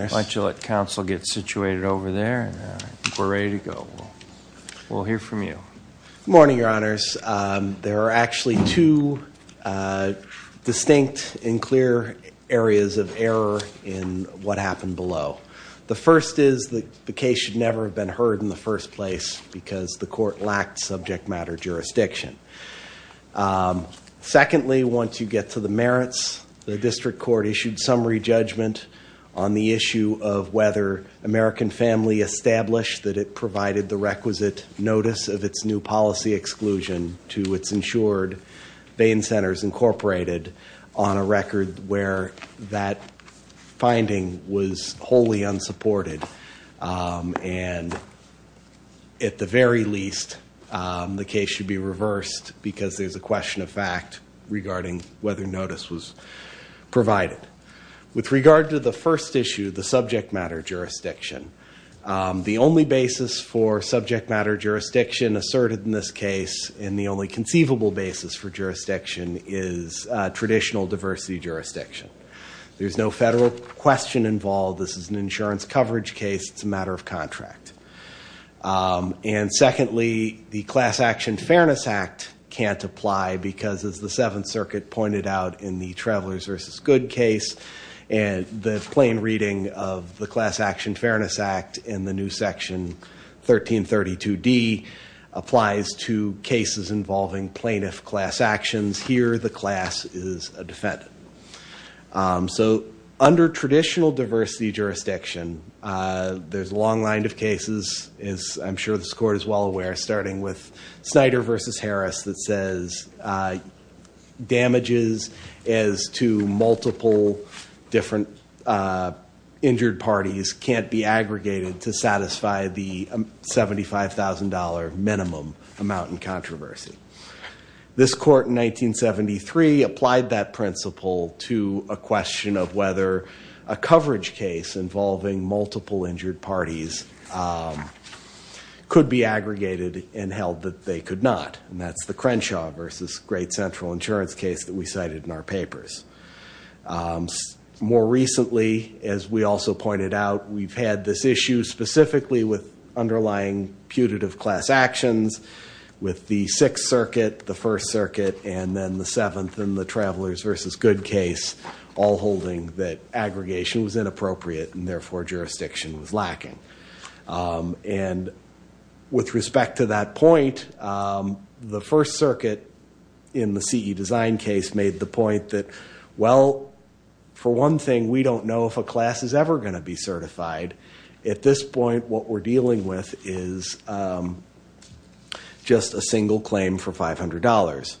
Good morning, Your Honors. There are actually two distinct and clear areas of error in what happened below. The first is that the case should never have been heard in the first place because the court lacked subject matter jurisdiction. Secondly, once you get to the merits, the district court issued summary judgment on the issue of whether American Family established that it provided the requisite notice of its new policy exclusion to its insured vein centers, Inc., on a record where that finding was wholly unsupported. And at the very least, the case should be reversed because there's a question of fact regarding whether notice was provided. With regard to the first issue, the subject matter jurisdiction, the only basis for subject matter jurisdiction asserted in this case and the only conceivable basis for jurisdiction is traditional diversity jurisdiction. There's no federal question involved. This is an insurance coverage case. It's a matter of contract. And secondly, the Class Action Fairness Act can't apply because, as the Seventh Circuit pointed out in the Travelers v. Good case, the plain reading of the Class Action Fairness Act in the new section 1332D applies to cases involving plaintiff class actions. Here, the class is a defendant. So under traditional diversity jurisdiction, there's a long line of cases, as I'm sure this court is well aware, starting with Snyder v. Harris that says damages as to multiple different injured parties can't be aggregated to satisfy the $75,000 minimum amount in controversy. This court in 1973 applied that principle to a question of whether a coverage case involving multiple injured parties could be aggregated and held that they could not. And that's the Crenshaw v. Great Central Insurance case that we cited in our papers. More recently, as we also pointed out, we've had this issue specifically with underlying putative class actions with the Sixth Circuit, the First Circuit, and then the Seventh and the Travelers v. Good case all holding that aggregation was inappropriate and therefore jurisdiction was lacking. And with respect to that point, the First Circuit in the CE Design case made the point that, well, for one thing, we don't know if a class is ever going to be certified. At this point, what we're dealing with is just a single claim for $500.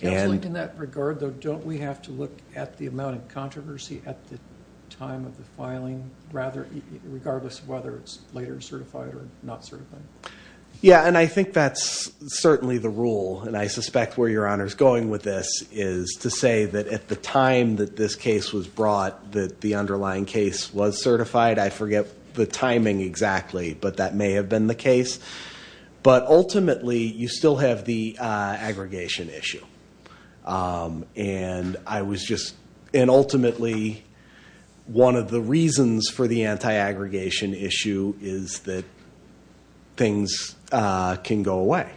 In that regard, though, don't we have to look at the amount of controversy at the time of the filing, regardless of whether it's later certified or not certified? Yeah, and I think that's certainly the rule. And I suspect where Your Honor is going with this is to say that at the time that this case was brought, that the underlying case was certified. I forget the timing exactly, but that may have been the case. But ultimately, you still have the aggregation issue. And ultimately, one of the reasons for the anti-aggregation issue is that things can go away.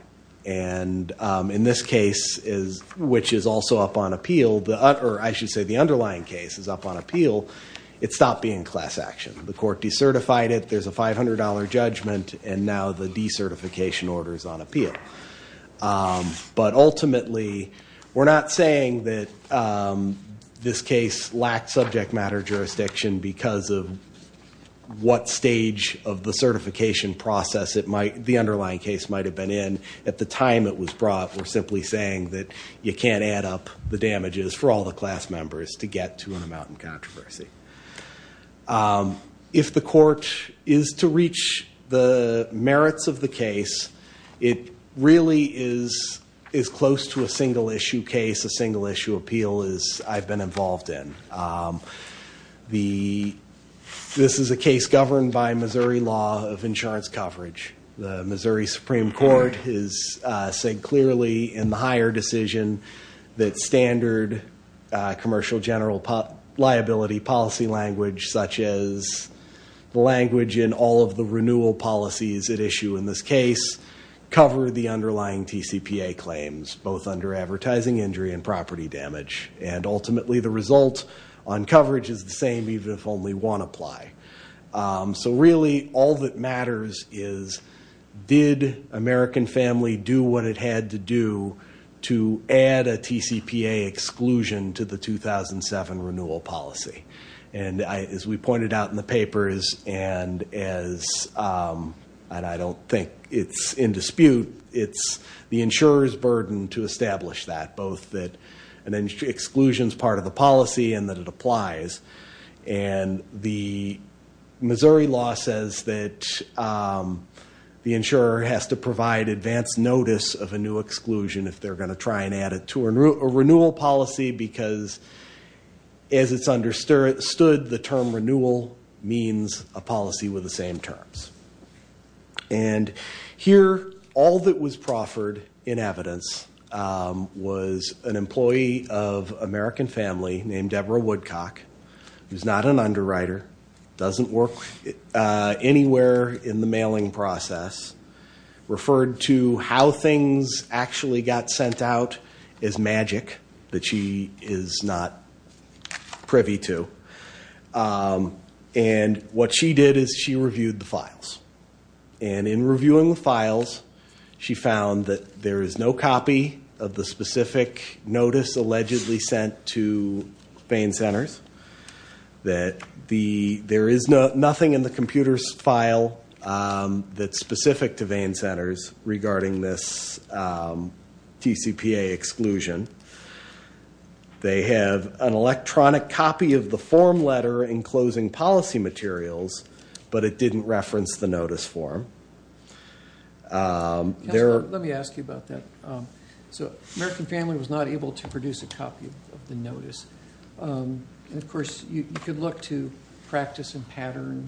And in this case, which is also up on appeal, or I should say the underlying case is up on appeal, it stopped being class action. The court decertified it. There's a $500 judgment. And now the decertification order is on appeal. But ultimately, we're not saying that this case lacked subject matter jurisdiction because of what stage of the certification process the underlying case might have been in. At the time it was brought, we're simply saying that you can't add up the damages for all the class members to get to an amount in controversy. If the court is to reach the merits of the case, it really is as close to a single-issue case, a single-issue appeal, as I've been involved in. This is a case governed by Missouri law of insurance coverage. The Missouri Supreme Court has said clearly in the higher decision that standard commercial general liability policy language, such as the language in all of the renewal policies at issue in this case, cover the underlying TCPA claims, both under advertising injury and property damage. And ultimately, the result on coverage is the same even if only one apply. So really, all that matters is, did American Family do what it had to do to add a TCPA exclusion to the 2007 renewal policy? And as we pointed out in the papers, and I don't think it's in dispute, it's the insurer's burden to establish that, both that an exclusion is part of the policy and that it applies. And the Missouri law says that the insurer has to provide advanced notice of a new exclusion if they're going to try and add it to a renewal policy because, as it's understood, the term renewal means a policy with the same terms. And here, all that was proffered in evidence was an employee of American Family named Deborah Woodcock, who's not an underwriter, doesn't work anywhere in the mailing process, referred to how things actually got sent out as magic that she is not privy to. And what she did is she reviewed the files. And in reviewing the files, she found that there is no copy of the specific notice allegedly sent to vein centers, that there is nothing in the computer's file that's specific to vein centers regarding this TCPA exclusion. They have an electronic copy of the form letter enclosing policy materials, but it didn't reference the notice form. Let me ask you about that. So American Family was not able to produce a copy of the notice. And, of course, you could look to practice and pattern.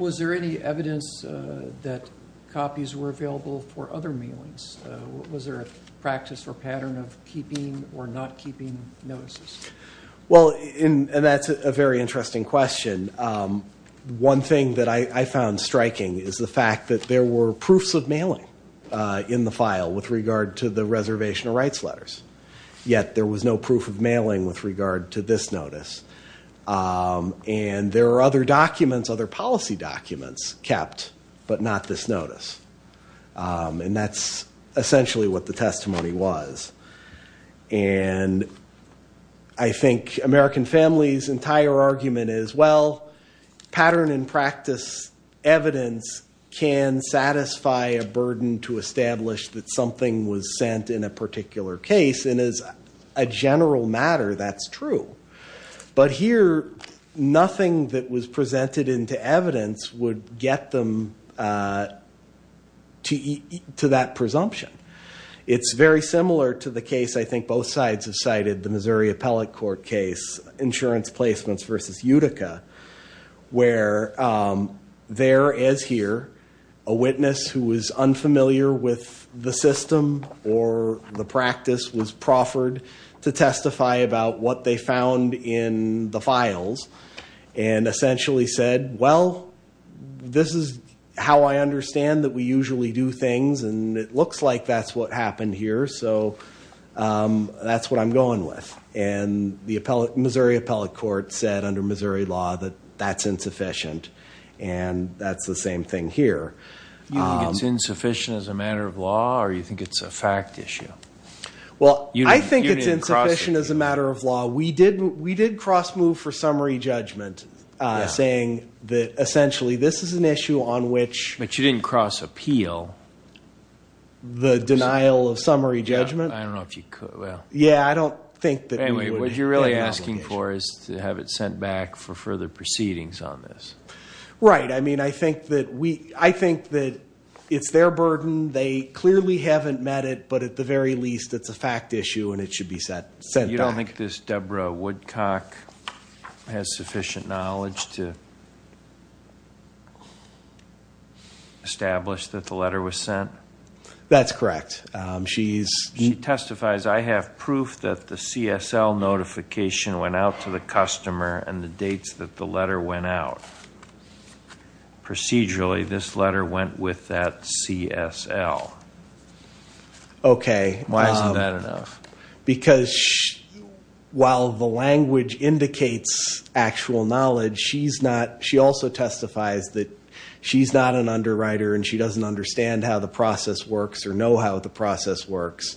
Was there any evidence that copies were available for other mailings? Was there a practice or pattern of keeping or not keeping notices? Well, and that's a very interesting question. One thing that I found striking is the fact that there were proofs of mailing in the file with regard to the reservation of rights letters. Yet there was no proof of mailing with regard to this notice. And there are other documents, other policy documents, kept, but not this notice. And that's essentially what the testimony was. And I think American Family's entire argument is, well, pattern and practice evidence can satisfy a burden to establish that something was sent in a particular case. And as a general matter, that's true. But here, nothing that was presented into evidence would get them to that presumption. It's very similar to the case I think both sides have cited, the Missouri Appellate Court case, insurance placements versus Utica, where there is here a witness who is unfamiliar with the system or the practice, was proffered to testify about what they found in the files and essentially said, well, this is how I understand that we usually do things, and it looks like that's what happened here, so that's what I'm going with. And the Missouri Appellate Court said under Missouri law that that's insufficient. And that's the same thing here. Do you think it's insufficient as a matter of law, or do you think it's a fact issue? Well, I think it's insufficient as a matter of law. We did cross-move for summary judgment, saying that essentially this is an issue on which— But you didn't cross-appeal. Yeah, I don't know if you could. Anyway, what you're really asking for is to have it sent back for further proceedings on this. Right. I mean, I think that it's their burden. They clearly haven't met it, but at the very least it's a fact issue and it should be sent back. You don't think this Deborah Woodcock has sufficient knowledge to establish that the letter was sent? That's correct. She testifies, I have proof that the CSL notification went out to the customer and the dates that the letter went out. Procedurally, this letter went with that CSL. Okay. Why isn't that enough? Because while the language indicates actual knowledge, she also testifies that she's not an underwriter and she doesn't understand how the process works or know how the process works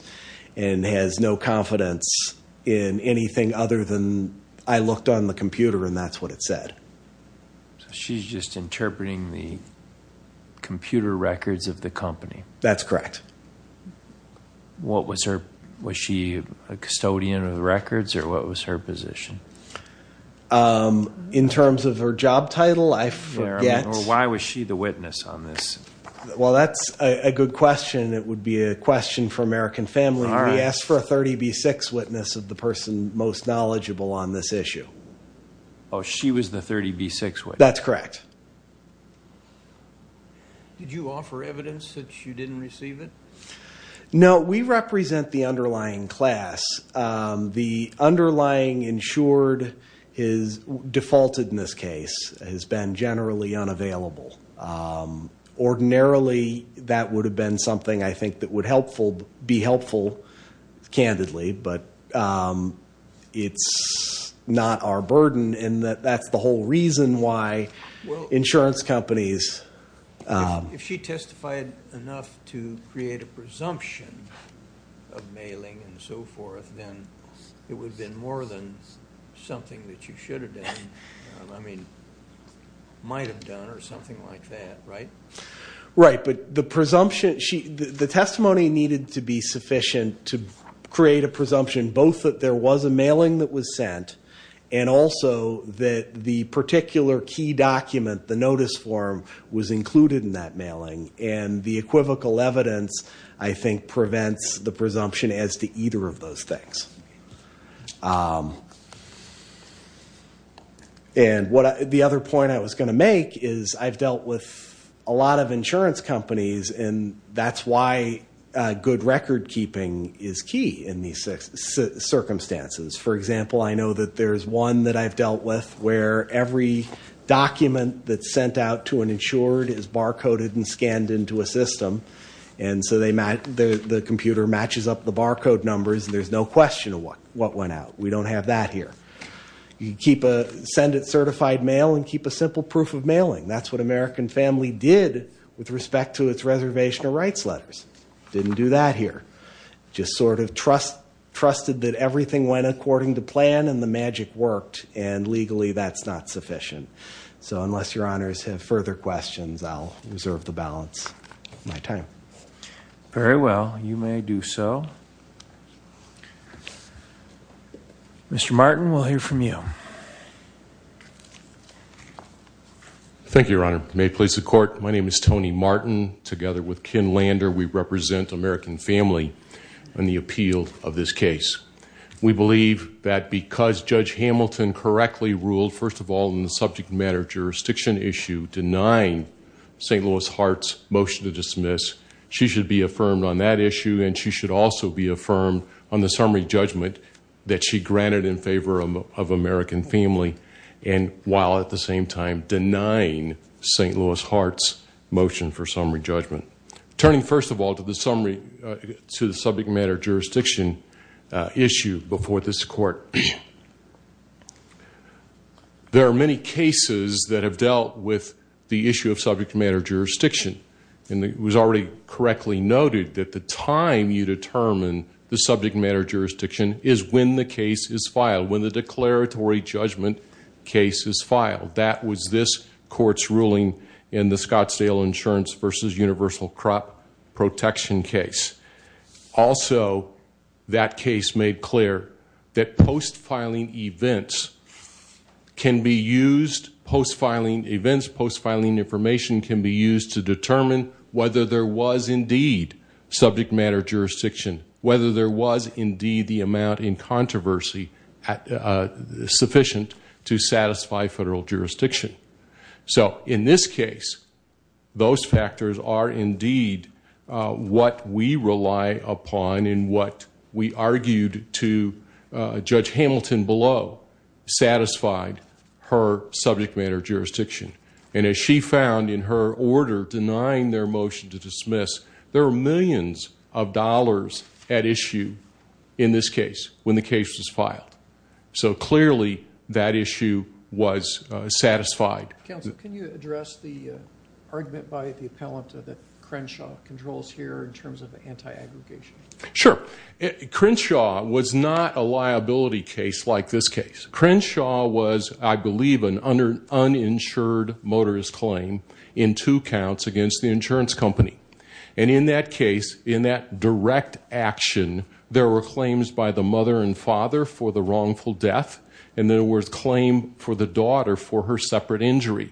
and has no confidence in anything other than, I looked on the computer and that's what it said. So she's just interpreting the computer records of the company? That's correct. Was she a custodian of the records or what was her position? In terms of her job title, I forget. Or why was she the witness on this? Well, that's a good question. It would be a question for American Family. We asked for a 30B6 witness of the person most knowledgeable on this issue. Oh, she was the 30B6 witness? That's correct. Did you offer evidence that you didn't receive it? No, we represent the underlying class. The underlying insured is defaulted in this case, has been generally unavailable. Ordinarily, that would have been something I think that would be helpful, candidly, but it's not our burden and that's the whole reason why insurance companies. If she testified enough to create a presumption of mailing and so forth, then it would have been more than something that you should have done. I mean, might have done or something like that, right? Right, but the testimony needed to be sufficient to create a presumption, both that there was a mailing that was sent and also that the particular key document, the notice form, was included in that mailing. And the equivocal evidence, I think, prevents the presumption as to either of those things. And the other point I was going to make is I've dealt with a lot of insurance companies and that's why good record keeping is key in these circumstances. For example, I know that there's one that I've dealt with where every document that's sent out to an insured is barcoded and scanned into a system. And so the computer matches up the barcode numbers and there's no question of what went out. We don't have that here. You can send it certified mail and keep a simple proof of mailing. That's what American Family did with respect to its reservation of rights letters. Didn't do that here. Just sort of trusted that everything went according to plan and the magic worked and legally that's not sufficient. So unless Your Honors have further questions, I'll reserve the balance of my time. Very well. You may do so. Mr. Martin, we'll hear from you. Thank you, Your Honor. May it please the Court, my name is Tony Martin. Together with Ken Lander, we represent American Family in the appeal of this case. We believe that because Judge Hamilton correctly ruled, first of all, in the subject matter jurisdiction issue, denying St. Louis Hart's motion to dismiss, she should be affirmed on that issue and she should also be affirmed on the summary judgment that she granted in favor of American Family, and while at the same time denying St. Louis Hart's motion for summary judgment. Turning, first of all, to the subject matter jurisdiction issue before this Court, there are many cases that have dealt with the issue of subject matter jurisdiction. It was already correctly noted that the time you determine the subject matter jurisdiction is when the case is filed, when the declaratory judgment case is filed. That was this Court's ruling in the Scottsdale Insurance v. Universal Crop Protection case. Also, that case made clear that post-filing events can be used, post-filing events, post-filing information can be used to determine whether there was indeed subject matter jurisdiction, whether there was indeed the amount in controversy sufficient to satisfy federal jurisdiction. In this case, those factors are indeed what we rely upon and what we argued to Judge Hamilton below satisfied her subject matter jurisdiction. As she found in her order denying their motion to dismiss, there were millions of dollars at issue in this case when the case was filed. Clearly, that issue was satisfied. Counsel, can you address the argument by the appellant that Crenshaw controls here in terms of anti-aggregation? Sure. Crenshaw was not a liability case like this case. Crenshaw was, I believe, an uninsured motorist claim in two counts against the insurance company. In that case, in that direct action, there were claims by the mother and father for the wrongful death and there was claim for the daughter for her separate injury.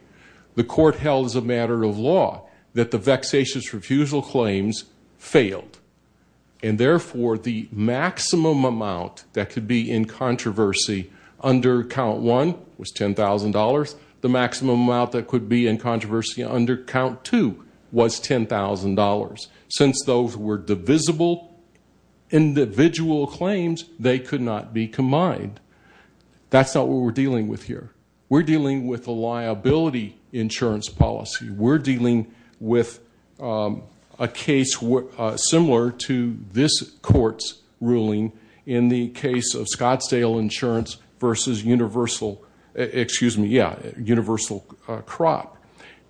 The court held as a matter of law that the vexatious refusal claims failed. Therefore, the maximum amount that could be in controversy under Count 1 was $10,000. The maximum amount that could be in controversy under Count 2 was $10,000. Since those were divisible individual claims, they could not be combined. That's not what we're dealing with here. We're dealing with a liability insurance policy. We're dealing with a case similar to this court's ruling in the case of Scottsdale Insurance versus Universal Crop.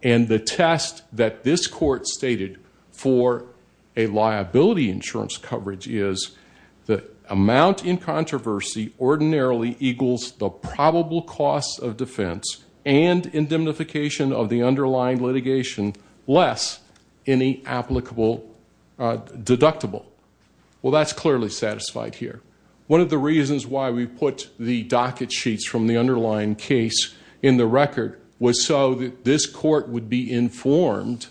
The test that this court stated for a liability insurance coverage is the amount in controversy ordinarily equals the probable cost of defense and indemnification of the underlying litigation less any applicable deductible. Well, that's clearly satisfied here. One of the reasons why we put the docket sheets from the underlying case in the record was so that this court would be informed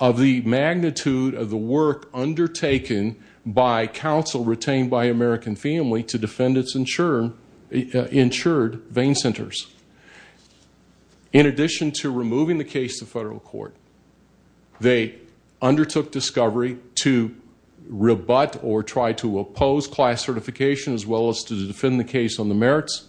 of the magnitude of the work undertaken by counsel retained by American Family to defend its insured vein centers. In addition to removing the case to federal court, they undertook discovery to rebut or try to oppose class certification as well as to defend the case on the merits.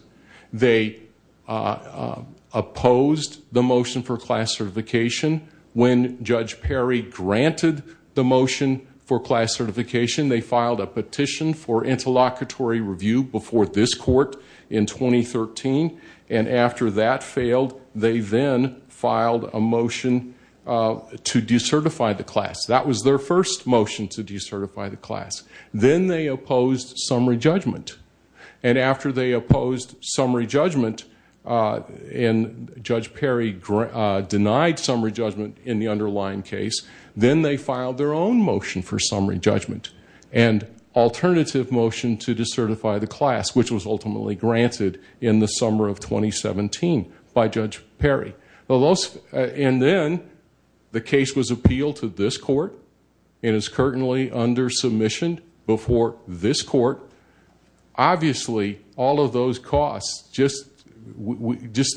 They opposed the motion for class certification when Judge Perry granted the motion for class certification. They filed a petition for interlocutory review before this court in 2013. And after that failed, they then filed a motion to decertify the class. That was their first motion to decertify the class. Then they opposed summary judgment. And after they opposed summary judgment and Judge Perry denied summary judgment in the underlying case, then they filed their own motion for summary judgment and alternative motion to decertify the class, which was ultimately granted in the summer of 2017 by Judge Perry. And then the case was appealed to this court and is currently under submission before this court. Obviously, all of those costs, just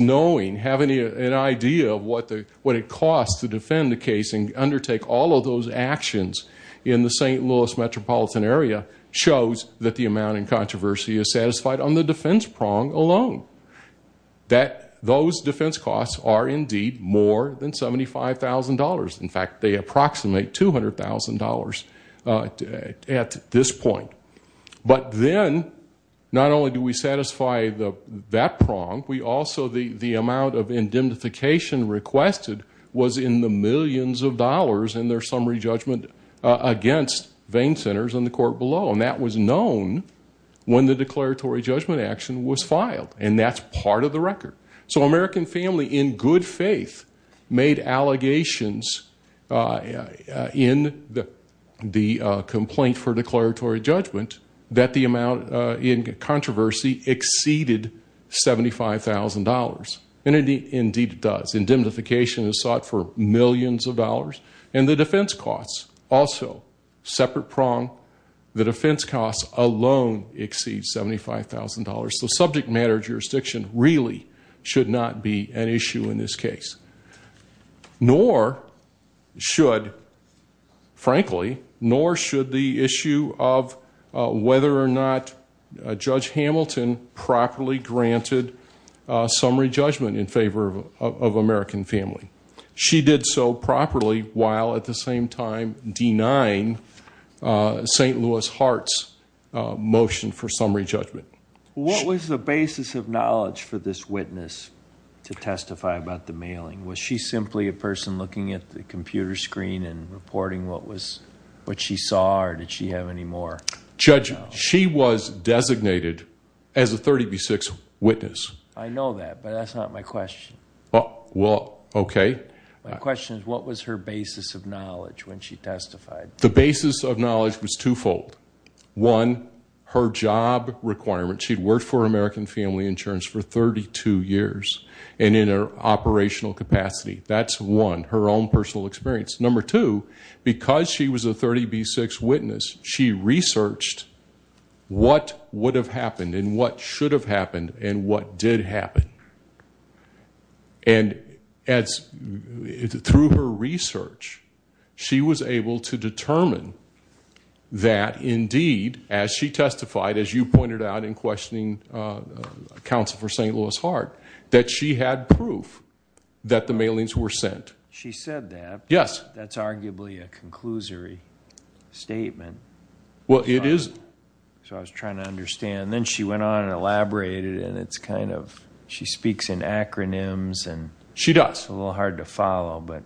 knowing, having an idea of what it costs to defend the case and undertake all of those actions in the St. Louis metropolitan area shows that the amount in controversy is satisfied on the defense prong alone. Those defense costs are indeed more than $75,000. In fact, they approximate $200,000 at this point. But then not only do we satisfy that prong, also the amount of indemnification requested was in the millions of dollars in their summary judgment against vein centers in the court below. And that was known when the declaratory judgment action was filed. And that's part of the record. So American family, in good faith, made allegations in the complaint for declaratory judgment that the amount in controversy exceeded $75,000. And indeed it does. Indemnification is sought for millions of dollars. And the defense costs also, separate prong, the defense costs alone exceed $75,000. So subject matter jurisdiction really should not be an issue in this case. Nor should, frankly, nor should the issue of whether or not Judge Hamilton properly granted summary judgment in favor of American family. She did so properly while at the same time denying St. Louis Heart's motion for summary judgment. What was the basis of knowledge for this witness to testify about the mailing? Was she simply a person looking at the computer screen and reporting what she saw or did she have any more? Judge, she was designated as a 30 v. 6 witness. I know that, but that's not my question. Well, okay. My question is what was her basis of knowledge when she testified? The basis of knowledge was twofold. One, her job requirement. She'd worked for American Family Insurance for 32 years and in an operational capacity. That's one, her own personal experience. Number two, because she was a 30 v. 6 witness, she researched what would have happened and what should have happened and what did happen. And through her research, she was able to determine that, indeed, as she testified, as you pointed out in questioning counsel for St. Louis Heart, that she had proof that the mailings were sent. She said that. Yes. That's arguably a conclusory statement. Well, it is. So I was trying to understand. Then she went on and elaborated and it's kind of she speaks in acronyms. She does. That's a little hard to follow, but.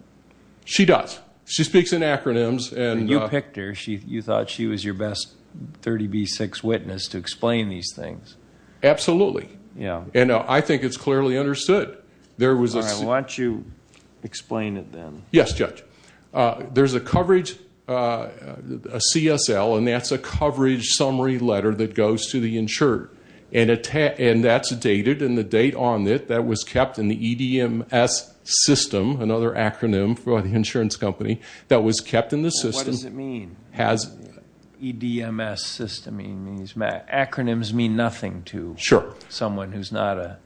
She does. She speaks in acronyms. You picked her. You thought she was your best 30 v. 6 witness to explain these things. Absolutely. Yeah. And I think it's clearly understood. All right. Why don't you explain it then. Yes, Judge. There's a coverage, a CSL, and that's a coverage summary letter that goes to the insured. And that's dated. And the date on it, that was kept in the EDMS system, another acronym for the insurance company, that was kept in the system. What does it mean? EDMS system. Acronyms mean nothing to someone who's not a.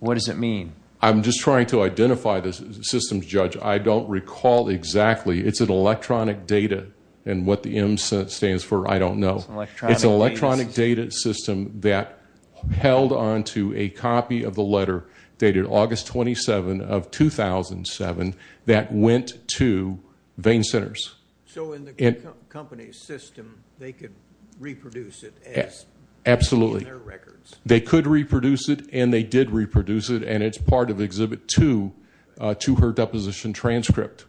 What does it mean? I'm just trying to identify the systems, Judge. I don't recall exactly. It's an electronic data. And what the M stands for, I don't know. It's an electronic data system that held onto a copy of the letter dated August 27 of 2007 that went to vein centers. So in the company's system, they could reproduce it. Absolutely. In their records. They could reproduce it, and they did reproduce it, and it's part of Exhibit 2 to her deposition transcript,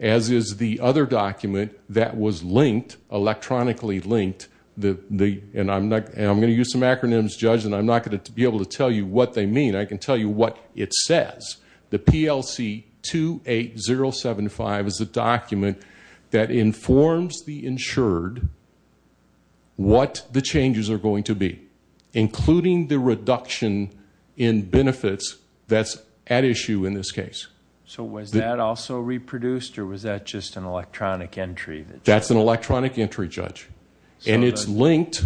as is the other document that was linked, electronically linked. And I'm going to use some acronyms, Judge, and I'm not going to be able to tell you what they mean. I can tell you what it says. The PLC 28075 is a document that informs the insured what the changes are going to be, including the reduction in benefits that's at issue in this case. So was that also reproduced, or was that just an electronic entry? That's an electronic entry, Judge. And it's linked.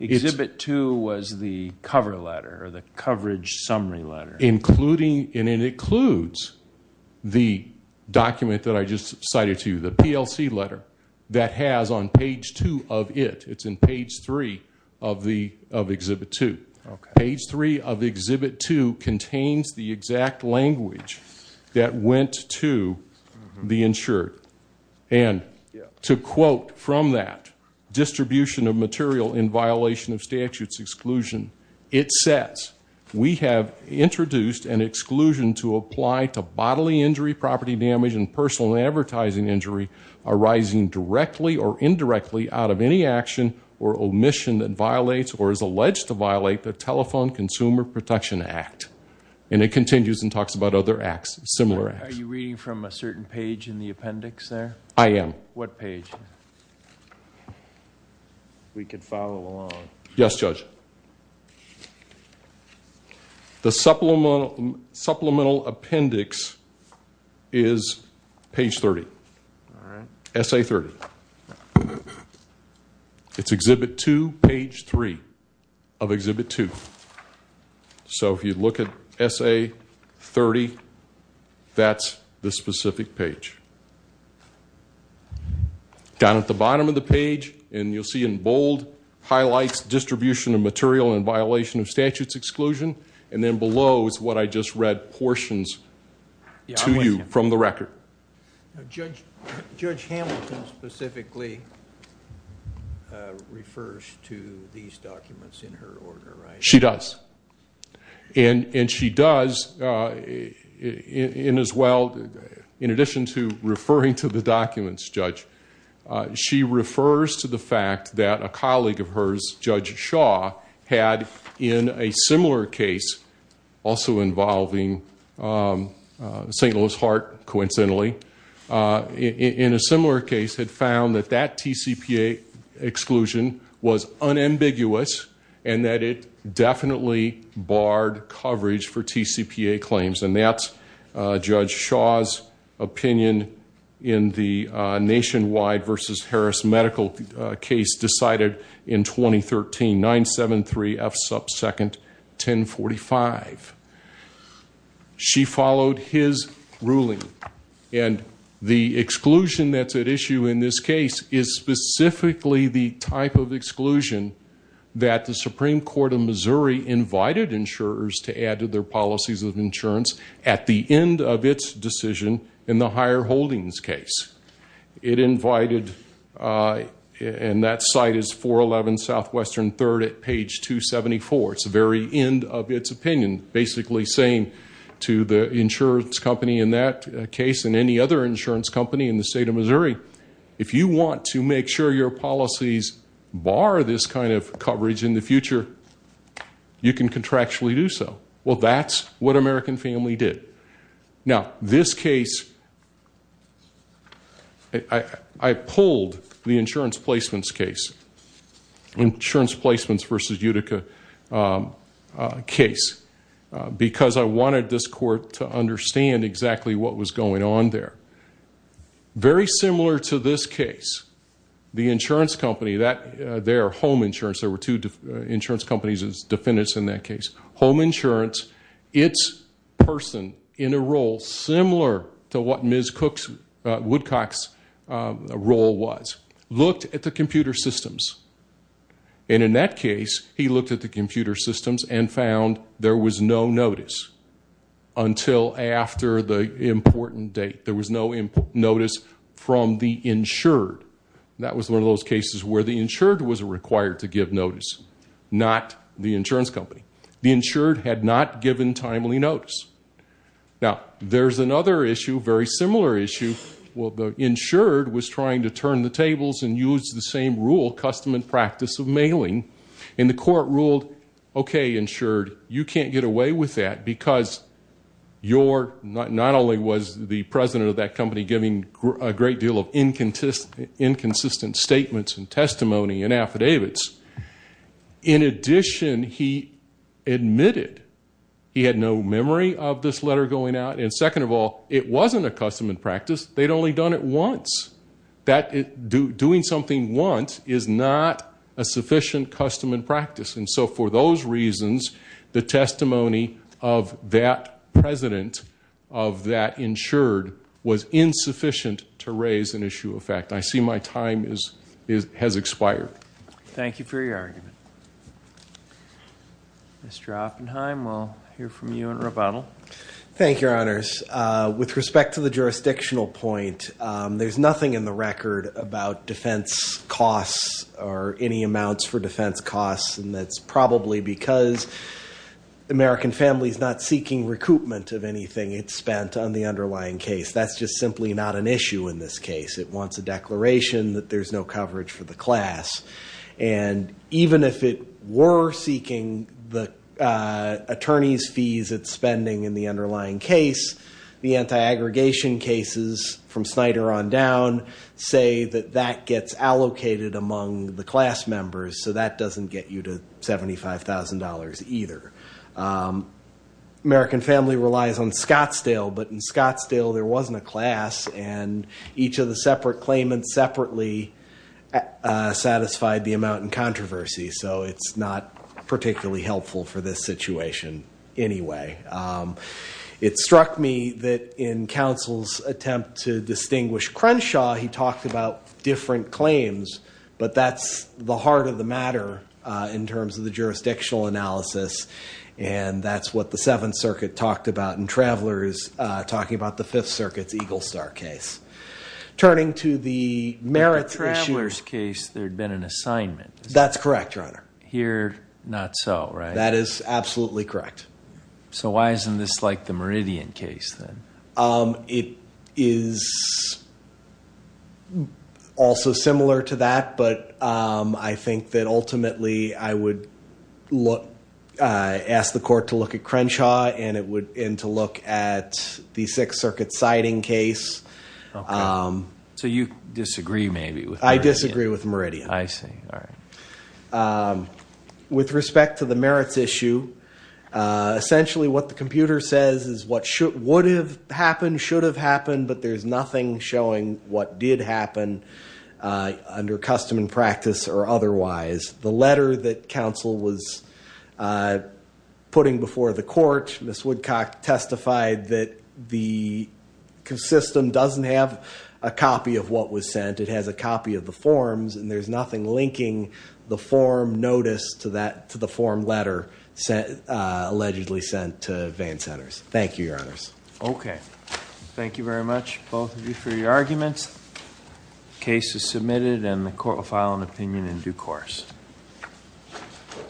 Exhibit 2 was the cover letter, the coverage summary letter. And it includes the document that I just cited to you, the PLC letter that has on page 2 of it, it's in page 3 of Exhibit 2. Page 3 of Exhibit 2 contains the exact language that went to the insured. And to quote from that, distribution of material in violation of statute's exclusion, it says, we have introduced an exclusion to apply to bodily injury, property damage, and personal advertising injury arising directly or indirectly out of any action or omission that violates or is alleged to violate the Telephone Consumer Protection Act. And it continues and talks about other acts, similar acts. Are you reading from a certain page in the appendix there? I am. What page? We can follow along. Yes, Judge. The supplemental appendix is page 30. All right. Essay 30. It's Exhibit 2, page 3 of Exhibit 2. So if you look at Essay 30, that's the specific page. Down at the bottom of the page, and you'll see in bold, highlights distribution of material in violation of statute's exclusion. And then below is what I just read portions to you from the record. Judge Hamilton specifically refers to these documents in her order, right? She does. And she does, in addition to referring to the documents, Judge, she refers to the fact that a colleague of hers, Judge Shaw, had in a similar case, also involving St. Louis Heart, coincidentally, in a similar case had found that that TCPA exclusion was unambiguous, and that it definitely barred coverage for TCPA claims. And that's Judge Shaw's opinion in the Nationwide versus Harris Medical case decided in 2013, 973 F sub second 1045. She followed his ruling. And the exclusion that's at issue in this case is specifically the type of exclusion that the Supreme Court of Missouri invited insurers to add to their policies of insurance at the end of its decision in the higher holdings case. It invited, and that site is 411 Southwestern 3rd at page 274. It's the very end of its opinion, basically saying to the insurance company in that case and any other insurance company in the state of Missouri, if you want to make sure your policies bar this kind of coverage in the future, you can contractually do so. Well, that's what American Family did. Now, this case, I pulled the insurance placements case, insurance placements versus Utica case, because I wanted this court to understand exactly what was going on there. Very similar to this case, the insurance company, their home insurance, there were two insurance companies as defendants in that case, home insurance, it's person in a role similar to what Ms. Cook's Woodcock's role was looked at the computer systems. And in that case, he looked at the computer systems and found there was no notice until after the important date. There was no notice from the insured. That was one of those cases where the insured was required to give notice, not the insurance company. The insured had not given timely notice. Now there's another issue, very similar issue. Well, the insured was trying to turn the tables and use the same rule custom and practice of mailing and the court ruled, okay, insured, you can't get away with that because you're not, not only was the president of that company giving a great deal of inconsistent statements and testimony and affidavits, in addition, he admitted he had no memory of this letter going out. And second of all, it wasn't a custom and practice. They'd only done it once that do doing something once is not a sufficient custom and practice. And so for those reasons, the testimony of that president of that insured was insufficient to raise an issue of fact, I see my time is, is, has expired. Thank you for your argument, Mr. Oppenheim. We'll hear from you in rebuttal. Thank your honors. Uh, with respect to the jurisdictional point, um, there's nothing in the record about defense costs or any amounts for defense costs. And that's probably because the American family is not seeking recoupment of anything. It's spent on the underlying case. That's just simply not an issue in this case. It wants a declaration that there's no coverage for the class. And even if it were seeking the, uh, attorneys fees at spending in the underlying case, the anti-aggregation cases from Snyder on down say that that gets allocated among the class members. So that doesn't get you to $75,000 either. Um, American family relies on Scottsdale, but in Scottsdale, there wasn't a class and each of the separate claimants separately, uh, satisfied the amount in controversy. So it's not particularly helpful for this situation anyway. Um, it struck me that in counsel's attempt to distinguish Crenshaw, he talked about different claims, but that's the heart of the matter, uh, in terms of the jurisdictional analysis. And that's what the seventh circuit talked about in travelers, uh, talking about the fifth circuit's Eagle star case, turning to the merit travelers case. There'd been an assignment. That's correct runner here. Not so right. That is absolutely correct. So why isn't this like the Meridian case then? Um, it is also similar to that, but, um, I think that ultimately I would look, uh, ask the court to look at Crenshaw and it would end to look at the sixth circuit siding case. Um, so you disagree maybe with, I disagree with Meridian. I see. All right. Um, with respect to the merits issue, uh, essentially what the computer says is what should, would have happened, should have happened, but there's nothing showing what did happen, uh, putting before the court, Miss Woodcock testified that the system doesn't have a copy of what was sent. It has a copy of the forms and there's nothing linking the form notice to that, to the form letter set, uh, allegedly sent to van centers. Thank you, your honors. Okay. Thank you very much. Both of you for your arguments cases submitted and the court will file an opinion in due course.